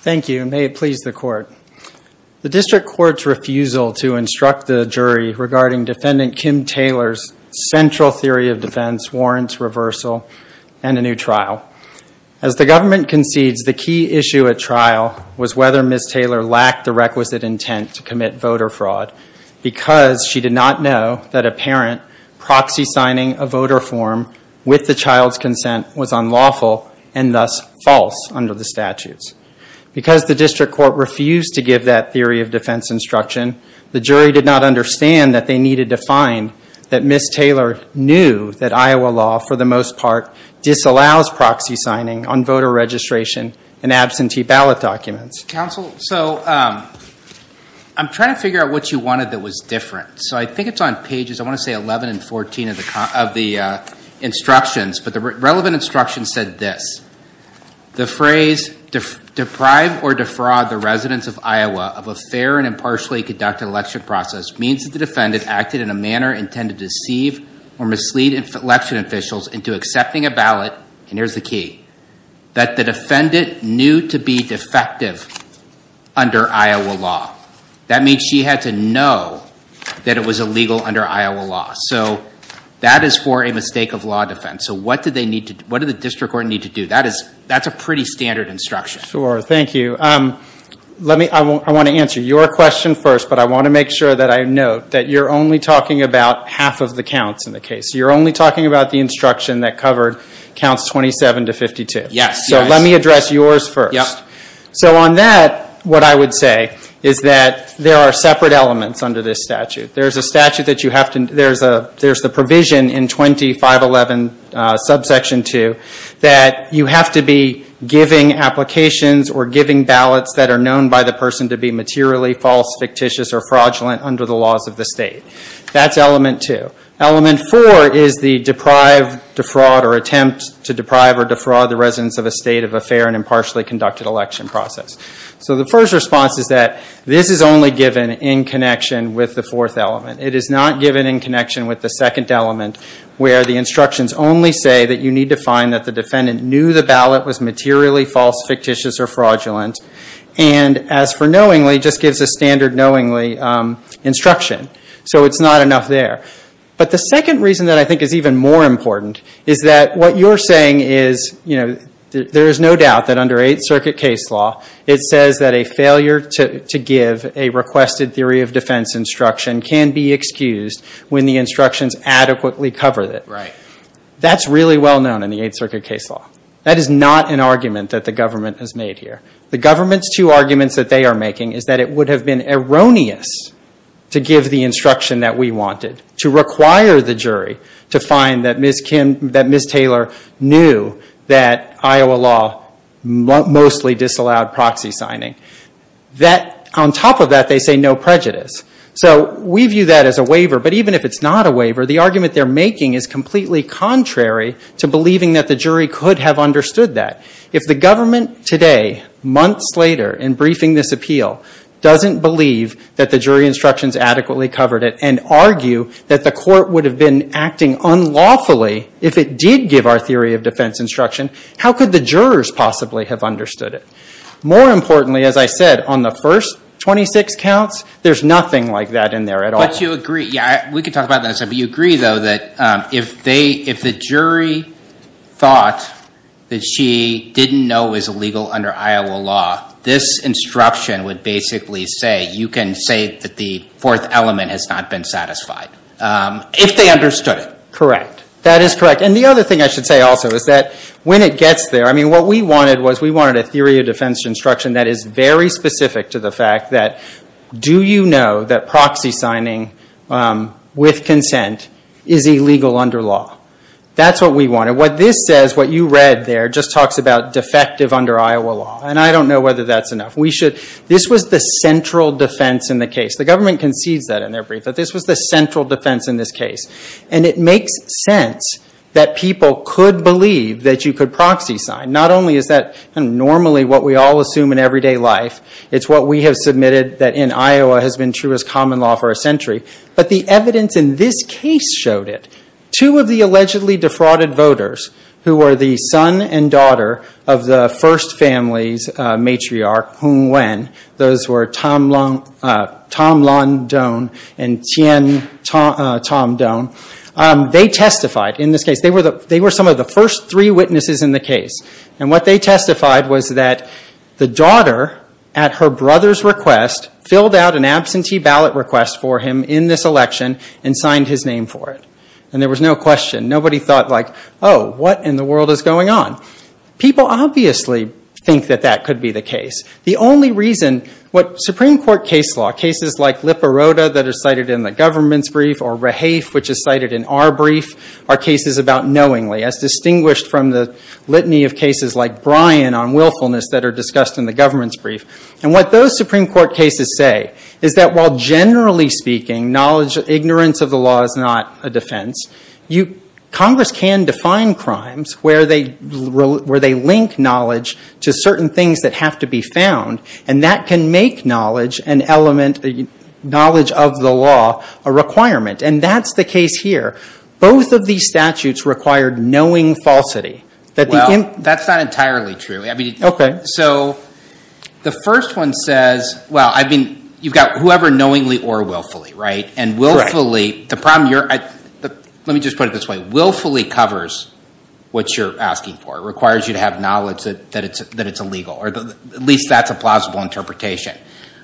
Thank you, and may it please the court. The district court's refusal to instruct the jury regarding defendant Kim Taylor's central theory of defense warrants reversal and a new trial. As the government concedes, the key issue at trial was whether Ms. Taylor lacked the requisite intent to commit voter fraud because she did not know that a parent proxy signing a voter form with the child's consent was unlawful and thus false under the statutes. Because the district court refused to give that theory of defense instruction, the jury did not understand that they needed to find that Ms. Taylor knew that Iowa law, for the most part, disallows proxy signing on voter registration and absentee ballot documents. Mr. Counsel, so I'm trying to figure out what you wanted that was different. So I think it's on pages, I want to say 11 and 14 of the instructions, but the relevant instructions said this. The phrase, deprive or defraud the residents of Iowa of a fair and impartially conducted election process means that the defendant acted in a manner intended to deceive or mislead election officials into accepting a ballot, and here's the key, that the defendant knew to be defective under Iowa law. That means she had to know that it was illegal under Iowa law. So that is for a mistake of law defense. So what did the district court need to do? That's a pretty standard instruction. Sure, thank you. I want to answer your question first, but I want to make sure that I note that you're only talking about half of the counts in the case. You're only talking about the instruction that covered counts 27 to 52. So let me address yours first. So on that, what I would say is that there are separate elements under this statute. There's the provision in 2511 subsection 2 that you have to be giving applications or giving ballots that are known by the person to be materially false, fictitious, or fraudulent under the laws of the state. That's element 2. Element 4 is the deprive, defraud, or attempt to deprive or defraud the residence of a state of affair in an impartially conducted election process. So the first response is that this is only given in connection with the fourth element. It is not given in connection with the second element where the instructions only say that you need to find that the defendant knew the ballot was materially false, fictitious, or fraudulent, and as for knowingly, just gives a standard knowingly instruction. So it's not enough there. But the second reason that I think is even more important is that what you're saying is there is no doubt that under Eighth Circuit case law, it says that a failure to give a requested theory of defense instruction can be excused when the instructions adequately cover it. That's really well known in the Eighth Circuit case law. That is not an argument that the government has made here. The government's two arguments that they are making is that it would have been erroneous to give the instruction that we wanted, to require the jury to find that Ms. Taylor knew that Iowa law mostly disallowed proxy signing. On top of that, they say no prejudice. So we view that as a waiver, but even if it's not a waiver, the argument they're making is completely contrary to believing that the jury could have understood that. If the government today, months later, in briefing this appeal, doesn't believe that the jury instructions adequately covered it and argue that the court would have been acting unlawfully if it did give our theory of defense instruction, how could the jurors possibly have understood it? More importantly, as I said, on the first 26 counts, there's nothing like that in there at all. But you agree, yeah, we can talk about that, but you agree, though, that if the jury thought that she didn't know it was illegal under Iowa law, this instruction would basically say you can say that the fourth element has not been satisfied, if they understood it. Correct. That is correct. And the other thing I should say also is that when it gets there, what we wanted was we wanted a theory of defense instruction that is very specific to the fact that do you know that proxy signing with consent is illegal under law? That's what we wanted. What this says, what you read there, just talks about defective under Iowa law, and I don't know whether that's enough. This was the central defense in the case. The government concedes that in their brief, that this was the central defense in this case. And it makes sense that people could believe that you could proxy sign. Not only is that normally what we all assume in everyday life, it's what we have submitted that in Iowa has been true as common law for a century, but the evidence in this case showed it. Two of the allegedly defrauded voters, who were the son and daughter of the first family's matriarch, Hung Nguyen, those were Tom London and Tien Tom Don, they testified in this case. They were some of the first three witnesses in the case. And what they testified was that the daughter, at her brother's request, filled out an absentee ballot request for him in this election and signed his name for it. And there was no question. Nobody thought like, oh, what in the world is going on? People obviously think that that could be the case. The only reason, what Supreme Court case law, cases like Liparota that are cited in the government's brief, or Rahafe which is cited in our brief, are cases about knowingly, as distinguished from the litany of cases like Bryan on willfulness that are discussed in the government's brief. And what those Supreme Court cases say is that while generally speaking, ignorance of the law is not a defense, Congress can define crimes where they link knowledge to certain things that have to be found, and that can make knowledge of the law a requirement. And that's the key case here. Both of these statutes required knowing falsity. Well, that's not entirely true. So the first one says, well, I mean, you've got whoever knowingly or willfully, right? And willfully, the problem, let me just put it this way. Willfully covers what you're asking for. It requires you to have knowledge that it's illegal, or at least that's a plausible interpretation.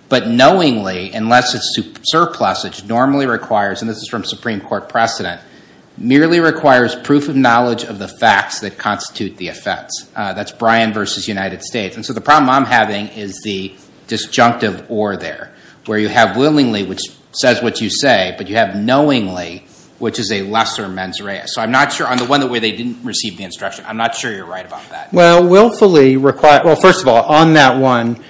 But knowingly, unless it's surplusage, normally requires, and this is from Supreme Court precedent, merely requires proof of knowledge of the facts that constitute the offense. That's Bryan versus United States. And so the problem I'm having is the disjunctive or there, where you have willingly, which says what you say, but you have knowingly, which is a lesser mens rea. So I'm not sure on the one where they didn't receive the instruction, I'm not sure you're right about that. Well, willfully requires, well, first of all, on that one,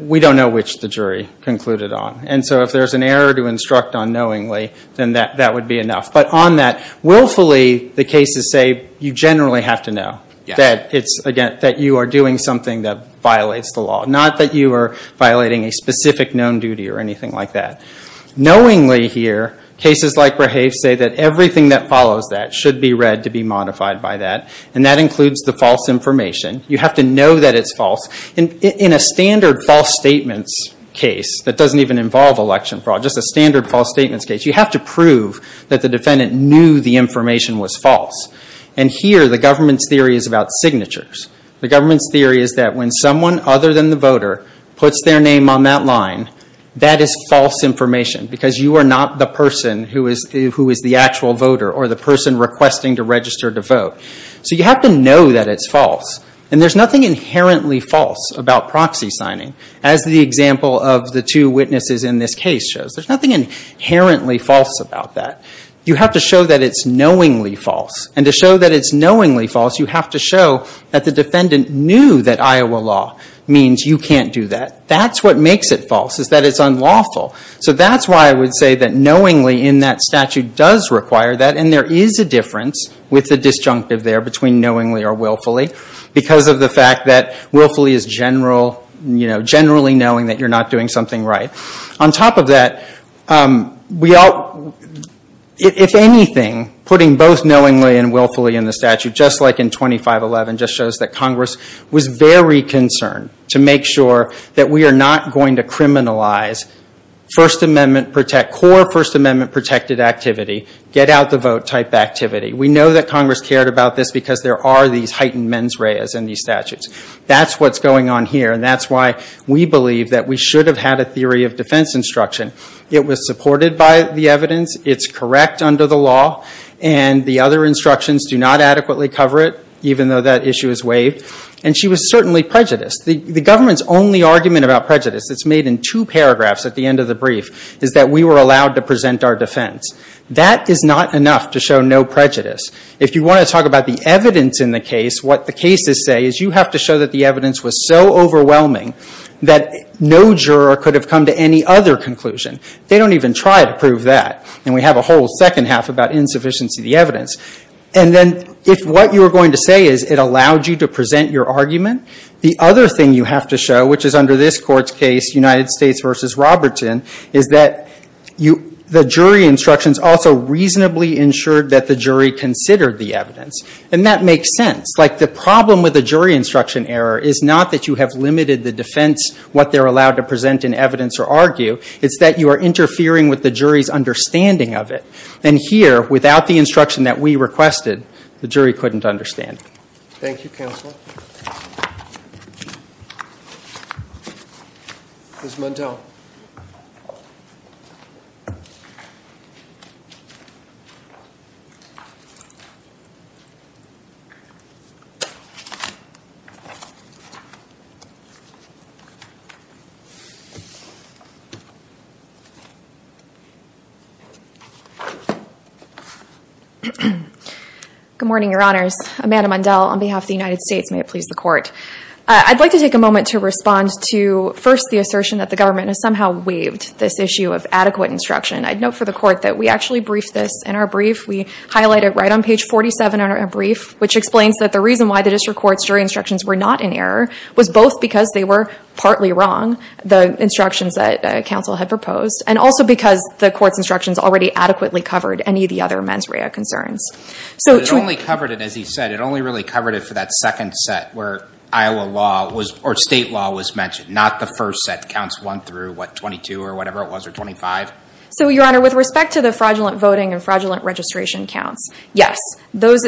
we don't know which the jury concluded on. And so if there's an error to instruct on knowingly, then that would be enough. But on that, willfully, the cases say you generally have to know that it's, again, that you are doing something that violates the law. Not that you are violating a specific known duty or anything like that. Knowingly here, cases like Brehev say that everything that follows that should be read to be modified by that. And that includes the false information. You have to know that it's false. In a standard false statements case that doesn't even involve election fraud, just a standard false statements case, you have to prove that the defendant knew the information was false. And here, the government's theory is about signatures. The government's theory is that when someone other than the voter puts their name on that line, that is false information because you are not the person who is the actual voter or the person requesting to register to vote. So you have to know that it's false. And there's nothing inherently false about proxy signing, as the example of the two witnesses in this case shows. There's nothing inherently false about that. You have to show that it's knowingly false. And to show that it's knowingly false, you have to show that the defendant knew that Iowa law means you can't do that. That's what makes it false is that it's unlawful. So that's why I would say that knowingly in that statute does require that. And there is a difference with the disjunctive there between knowingly or willfully because of the fact that willfully is generally knowing that you're not doing something right. On top of that, if anything, putting both knowingly and willfully in the statute, just like in 2511, just shows that Congress was very concerned to make sure that we are not going to criminalize core First Amendment-protected activity, get-out-the-vote-type activity. We know that Congress cared about this because there are these heightened mens reas in these statutes. That's what's going on here. And that's why we believe that we should have had a theory of defense instruction. It was supported by the evidence. It's correct under the law. And the other instructions do not adequately cover it, even though that issue is waived. And she was certainly prejudiced. The government's only argument about prejudice that's made in two paragraphs at the end of the brief is that we were allowed to present our defense. That is not enough to show no prejudice. If you want to talk about the evidence in the case, what the cases say is you have to show that the evidence was so overwhelming that no juror could have come to any other conclusion. They don't even try to prove that. And we have a whole second half about insufficiency of the evidence. And then if what you were going to say is it allowed you to present your argument, the other thing you have to show, which is under this Court's case, United States v. Robertson, is that the jury instructions also reasonably ensured that the jury considered the evidence. And that makes sense. Like, the problem with a jury instruction error is not that you have limited the defense, what they're allowed to present in evidence or argue. It's that you are interfering with the jury's understanding of it. And here, without the instruction that we requested, the jury couldn't understand it. Thank you, Counsel. Ms. Mundell. Good morning, Your Honors. Amanda Mundell on behalf of the United States. May it please the Court. I'd like to take a moment to respond to, first, the assertion that the government has somehow waived this issue of adequate instruction. I'd note for the Court that we actually briefed this in our brief. We highlight it right on page 47 in our brief, which explains that the reason why the district court's jury instructions were not in error was both because they were partly wrong, the instructions that Counsel had proposed, and also because the Court's instructions already adequately covered any of the other mens rea concerns. But it only covered it, as he said, it only really covered it for that second set where Iowa law was, or state law was mentioned, not the first set, counts one through, what, 22 or whatever it was, or 25? So Your Honor, with respect to the fraudulent voting and fraudulent registration counts, yes, those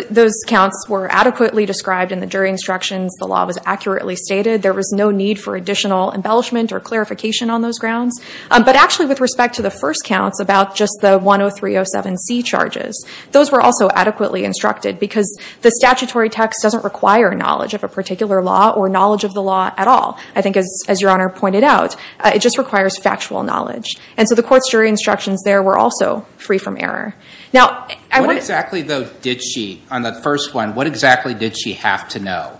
counts were adequately described in the jury instructions. The law was accurately stated. There was no need for additional embellishment or clarification on those grounds. But actually, with respect to the first counts about just the 103.07c charges, those were also adequately instructed because the statutory text doesn't require knowledge of a particular law or knowledge of the law at all. I think, as Your Honor pointed out, it just requires factual knowledge. And so the Court's jury instructions there were also free from error. Now, I want to- What exactly, though, did she, on that first one, what exactly did she have to know?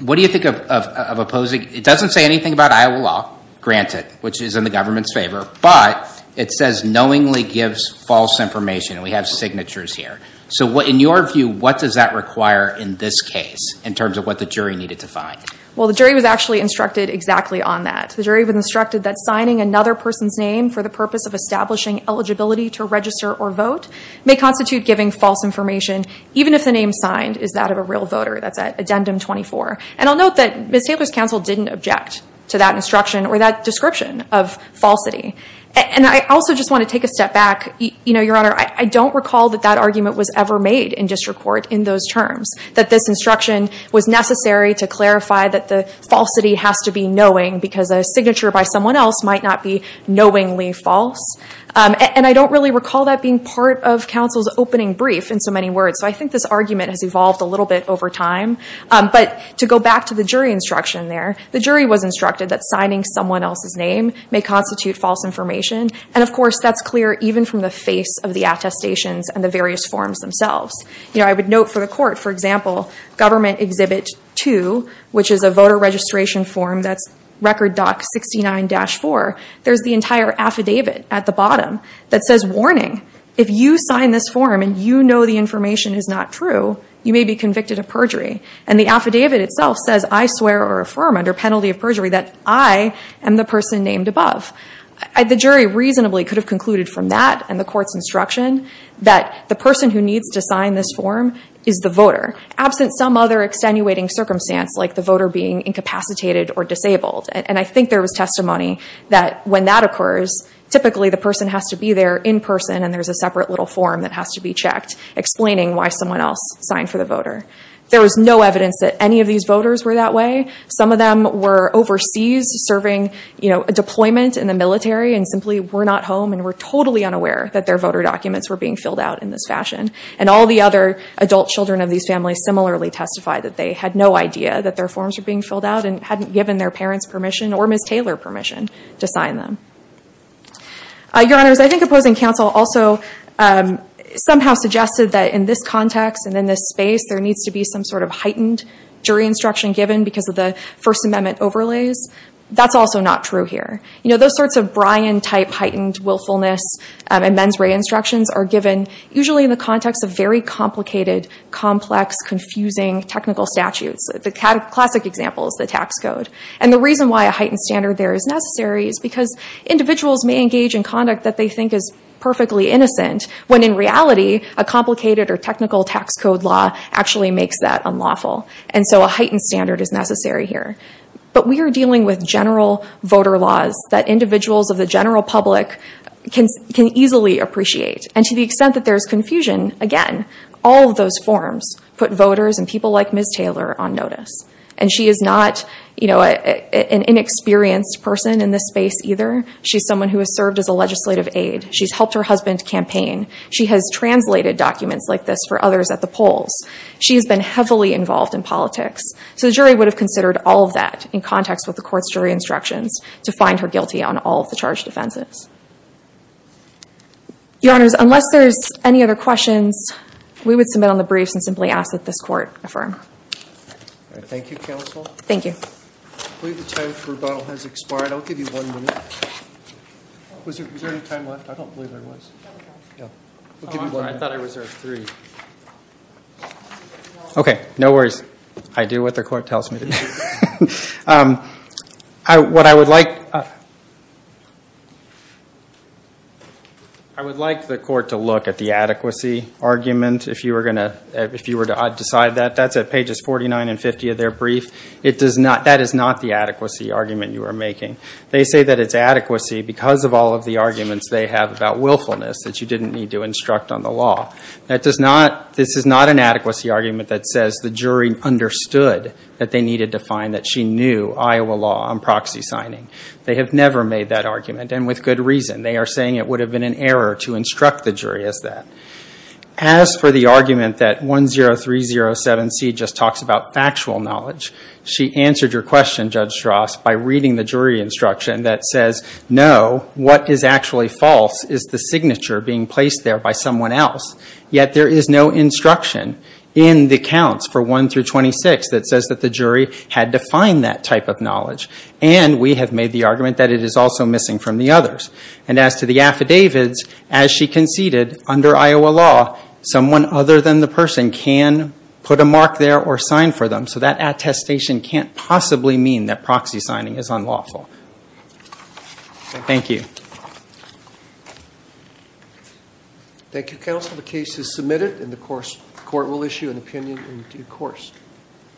What do you think of opposing, it doesn't say anything about Iowa law, granted, which is in the government's favor, but it says knowingly gives false information, and we have signatures here. So in your view, what does that require in this case, in terms of what the jury needed to find? Well, the jury was actually instructed exactly on that. The jury was instructed that signing another person's name for the purpose of establishing eligibility to register or vote may constitute giving false information, even if the name signed is that of a real voter. That's at Addendum 24. And I'll note that Ms. Taylor's counsel didn't object to that instruction or that description of falsity. And I also just want to take a step back. You know, Your Honor, I don't recall that that argument was ever made in district court in those terms, that this instruction was necessary to clarify that the falsity has to be knowing because a signature by someone else might not be knowingly false. And I don't really recall that being part of counsel's opening brief in so many words. So I think this argument has evolved a little bit over time. But to go back to the jury instruction there, the jury was instructed that signing someone else's name may constitute false information. And of course, that's clear even from the face of the attestations and the various forms themselves. You know, I would note for the court, for example, Government Exhibit 2, which is a voter registration form that's Record Doc 69-4, there's the entire affidavit at the bottom that says, warning, if you sign this form and you know the information is not true, you may be convicted of perjury. And the affidavit itself says, I swear or affirm under penalty of perjury that I am the person named above. The jury reasonably could have concluded from that and the court's instruction that the person who needs to sign this form is the voter, absent some other extenuating circumstance like the voter being incapacitated or disabled. And I think there was testimony that when that occurs, typically the person has to be there in person and there's a separate little form that has to be checked explaining why someone else signed for the voter. There was no evidence that any of these voters were that way. Some of them were overseas serving, you know, a deployment in the military and simply were not home and were totally unaware that their voter documents were being filled out in this fashion. And all the other adult children of these families similarly testified that they had no idea that their forms were being filled out and hadn't given their parents permission or Ms. Taylor permission to sign them. Your Honors, I think opposing counsel also somehow suggested that in this context and in this space, there needs to be some sort of heightened jury instruction given because of the First Amendment overlays. That's also not true here. You know, those sorts of Bryan-type heightened willfulness and mens rea instructions are given usually in the context of very complicated, complex, confusing technical statutes. The classic example is the tax code. And the reason why a heightened standard there is necessary is because individuals may engage in conduct that they think is perfectly innocent when in reality, a complicated or technical tax code law actually makes that unlawful. And so a heightened standard is necessary here. But we are dealing with general voter laws that individuals of the general public can easily appreciate. And to the extent that there's confusion, again, all of those forms put voters and people like Ms. Taylor on notice. And she is not an inexperienced person in this space either. She's someone who has served as a legislative aide. She's helped her husband campaign. She has translated documents like this for others at the polls. She has been heavily involved in politics. So the jury would have considered all of that in context with the court's jury instructions to find her guilty on all of the charged offenses. Your Honors, unless there's any other questions, we would submit on the briefs and simply ask that this court affirm. Thank you, Counsel. Thank you. I believe the time for rebuttal has expired. I'll give you one minute. Was there any time left? I don't believe there was. I thought I reserved three. Okay. No worries. I do what the court tells me to do. What I would like... I would like the court to look at the adequacy argument, if you were to decide that. That's at pages 49 and 50 of their brief. That is not the adequacy argument you are making. They say that it's adequacy because of all of the arguments they have about willfulness that you didn't need to instruct on the law. This is not an adequacy argument that says the jury understood that they needed to find that she knew Iowa law on proxy signing. They have never made that argument, and with good reason. They are saying it would have been an error to instruct the jury as that. As for the argument that 10307C just talks about factual knowledge, she answered your question, Judge Strauss, by reading the jury instruction that says, no, what is actually false is the signature being placed there by someone else. Yet there is no instruction in the counts for 1 through 26 that says that the jury had to find that type of knowledge. And we have made the argument that it is also missing from the others. And as to the affidavits, as she conceded, under Iowa law, someone other than the person can put a mark there or sign for them. So that attestation can't possibly mean that proxy signing is unlawful. Thank you. Thank you, counsel. The case is submitted and the court will issue an opinion in due course.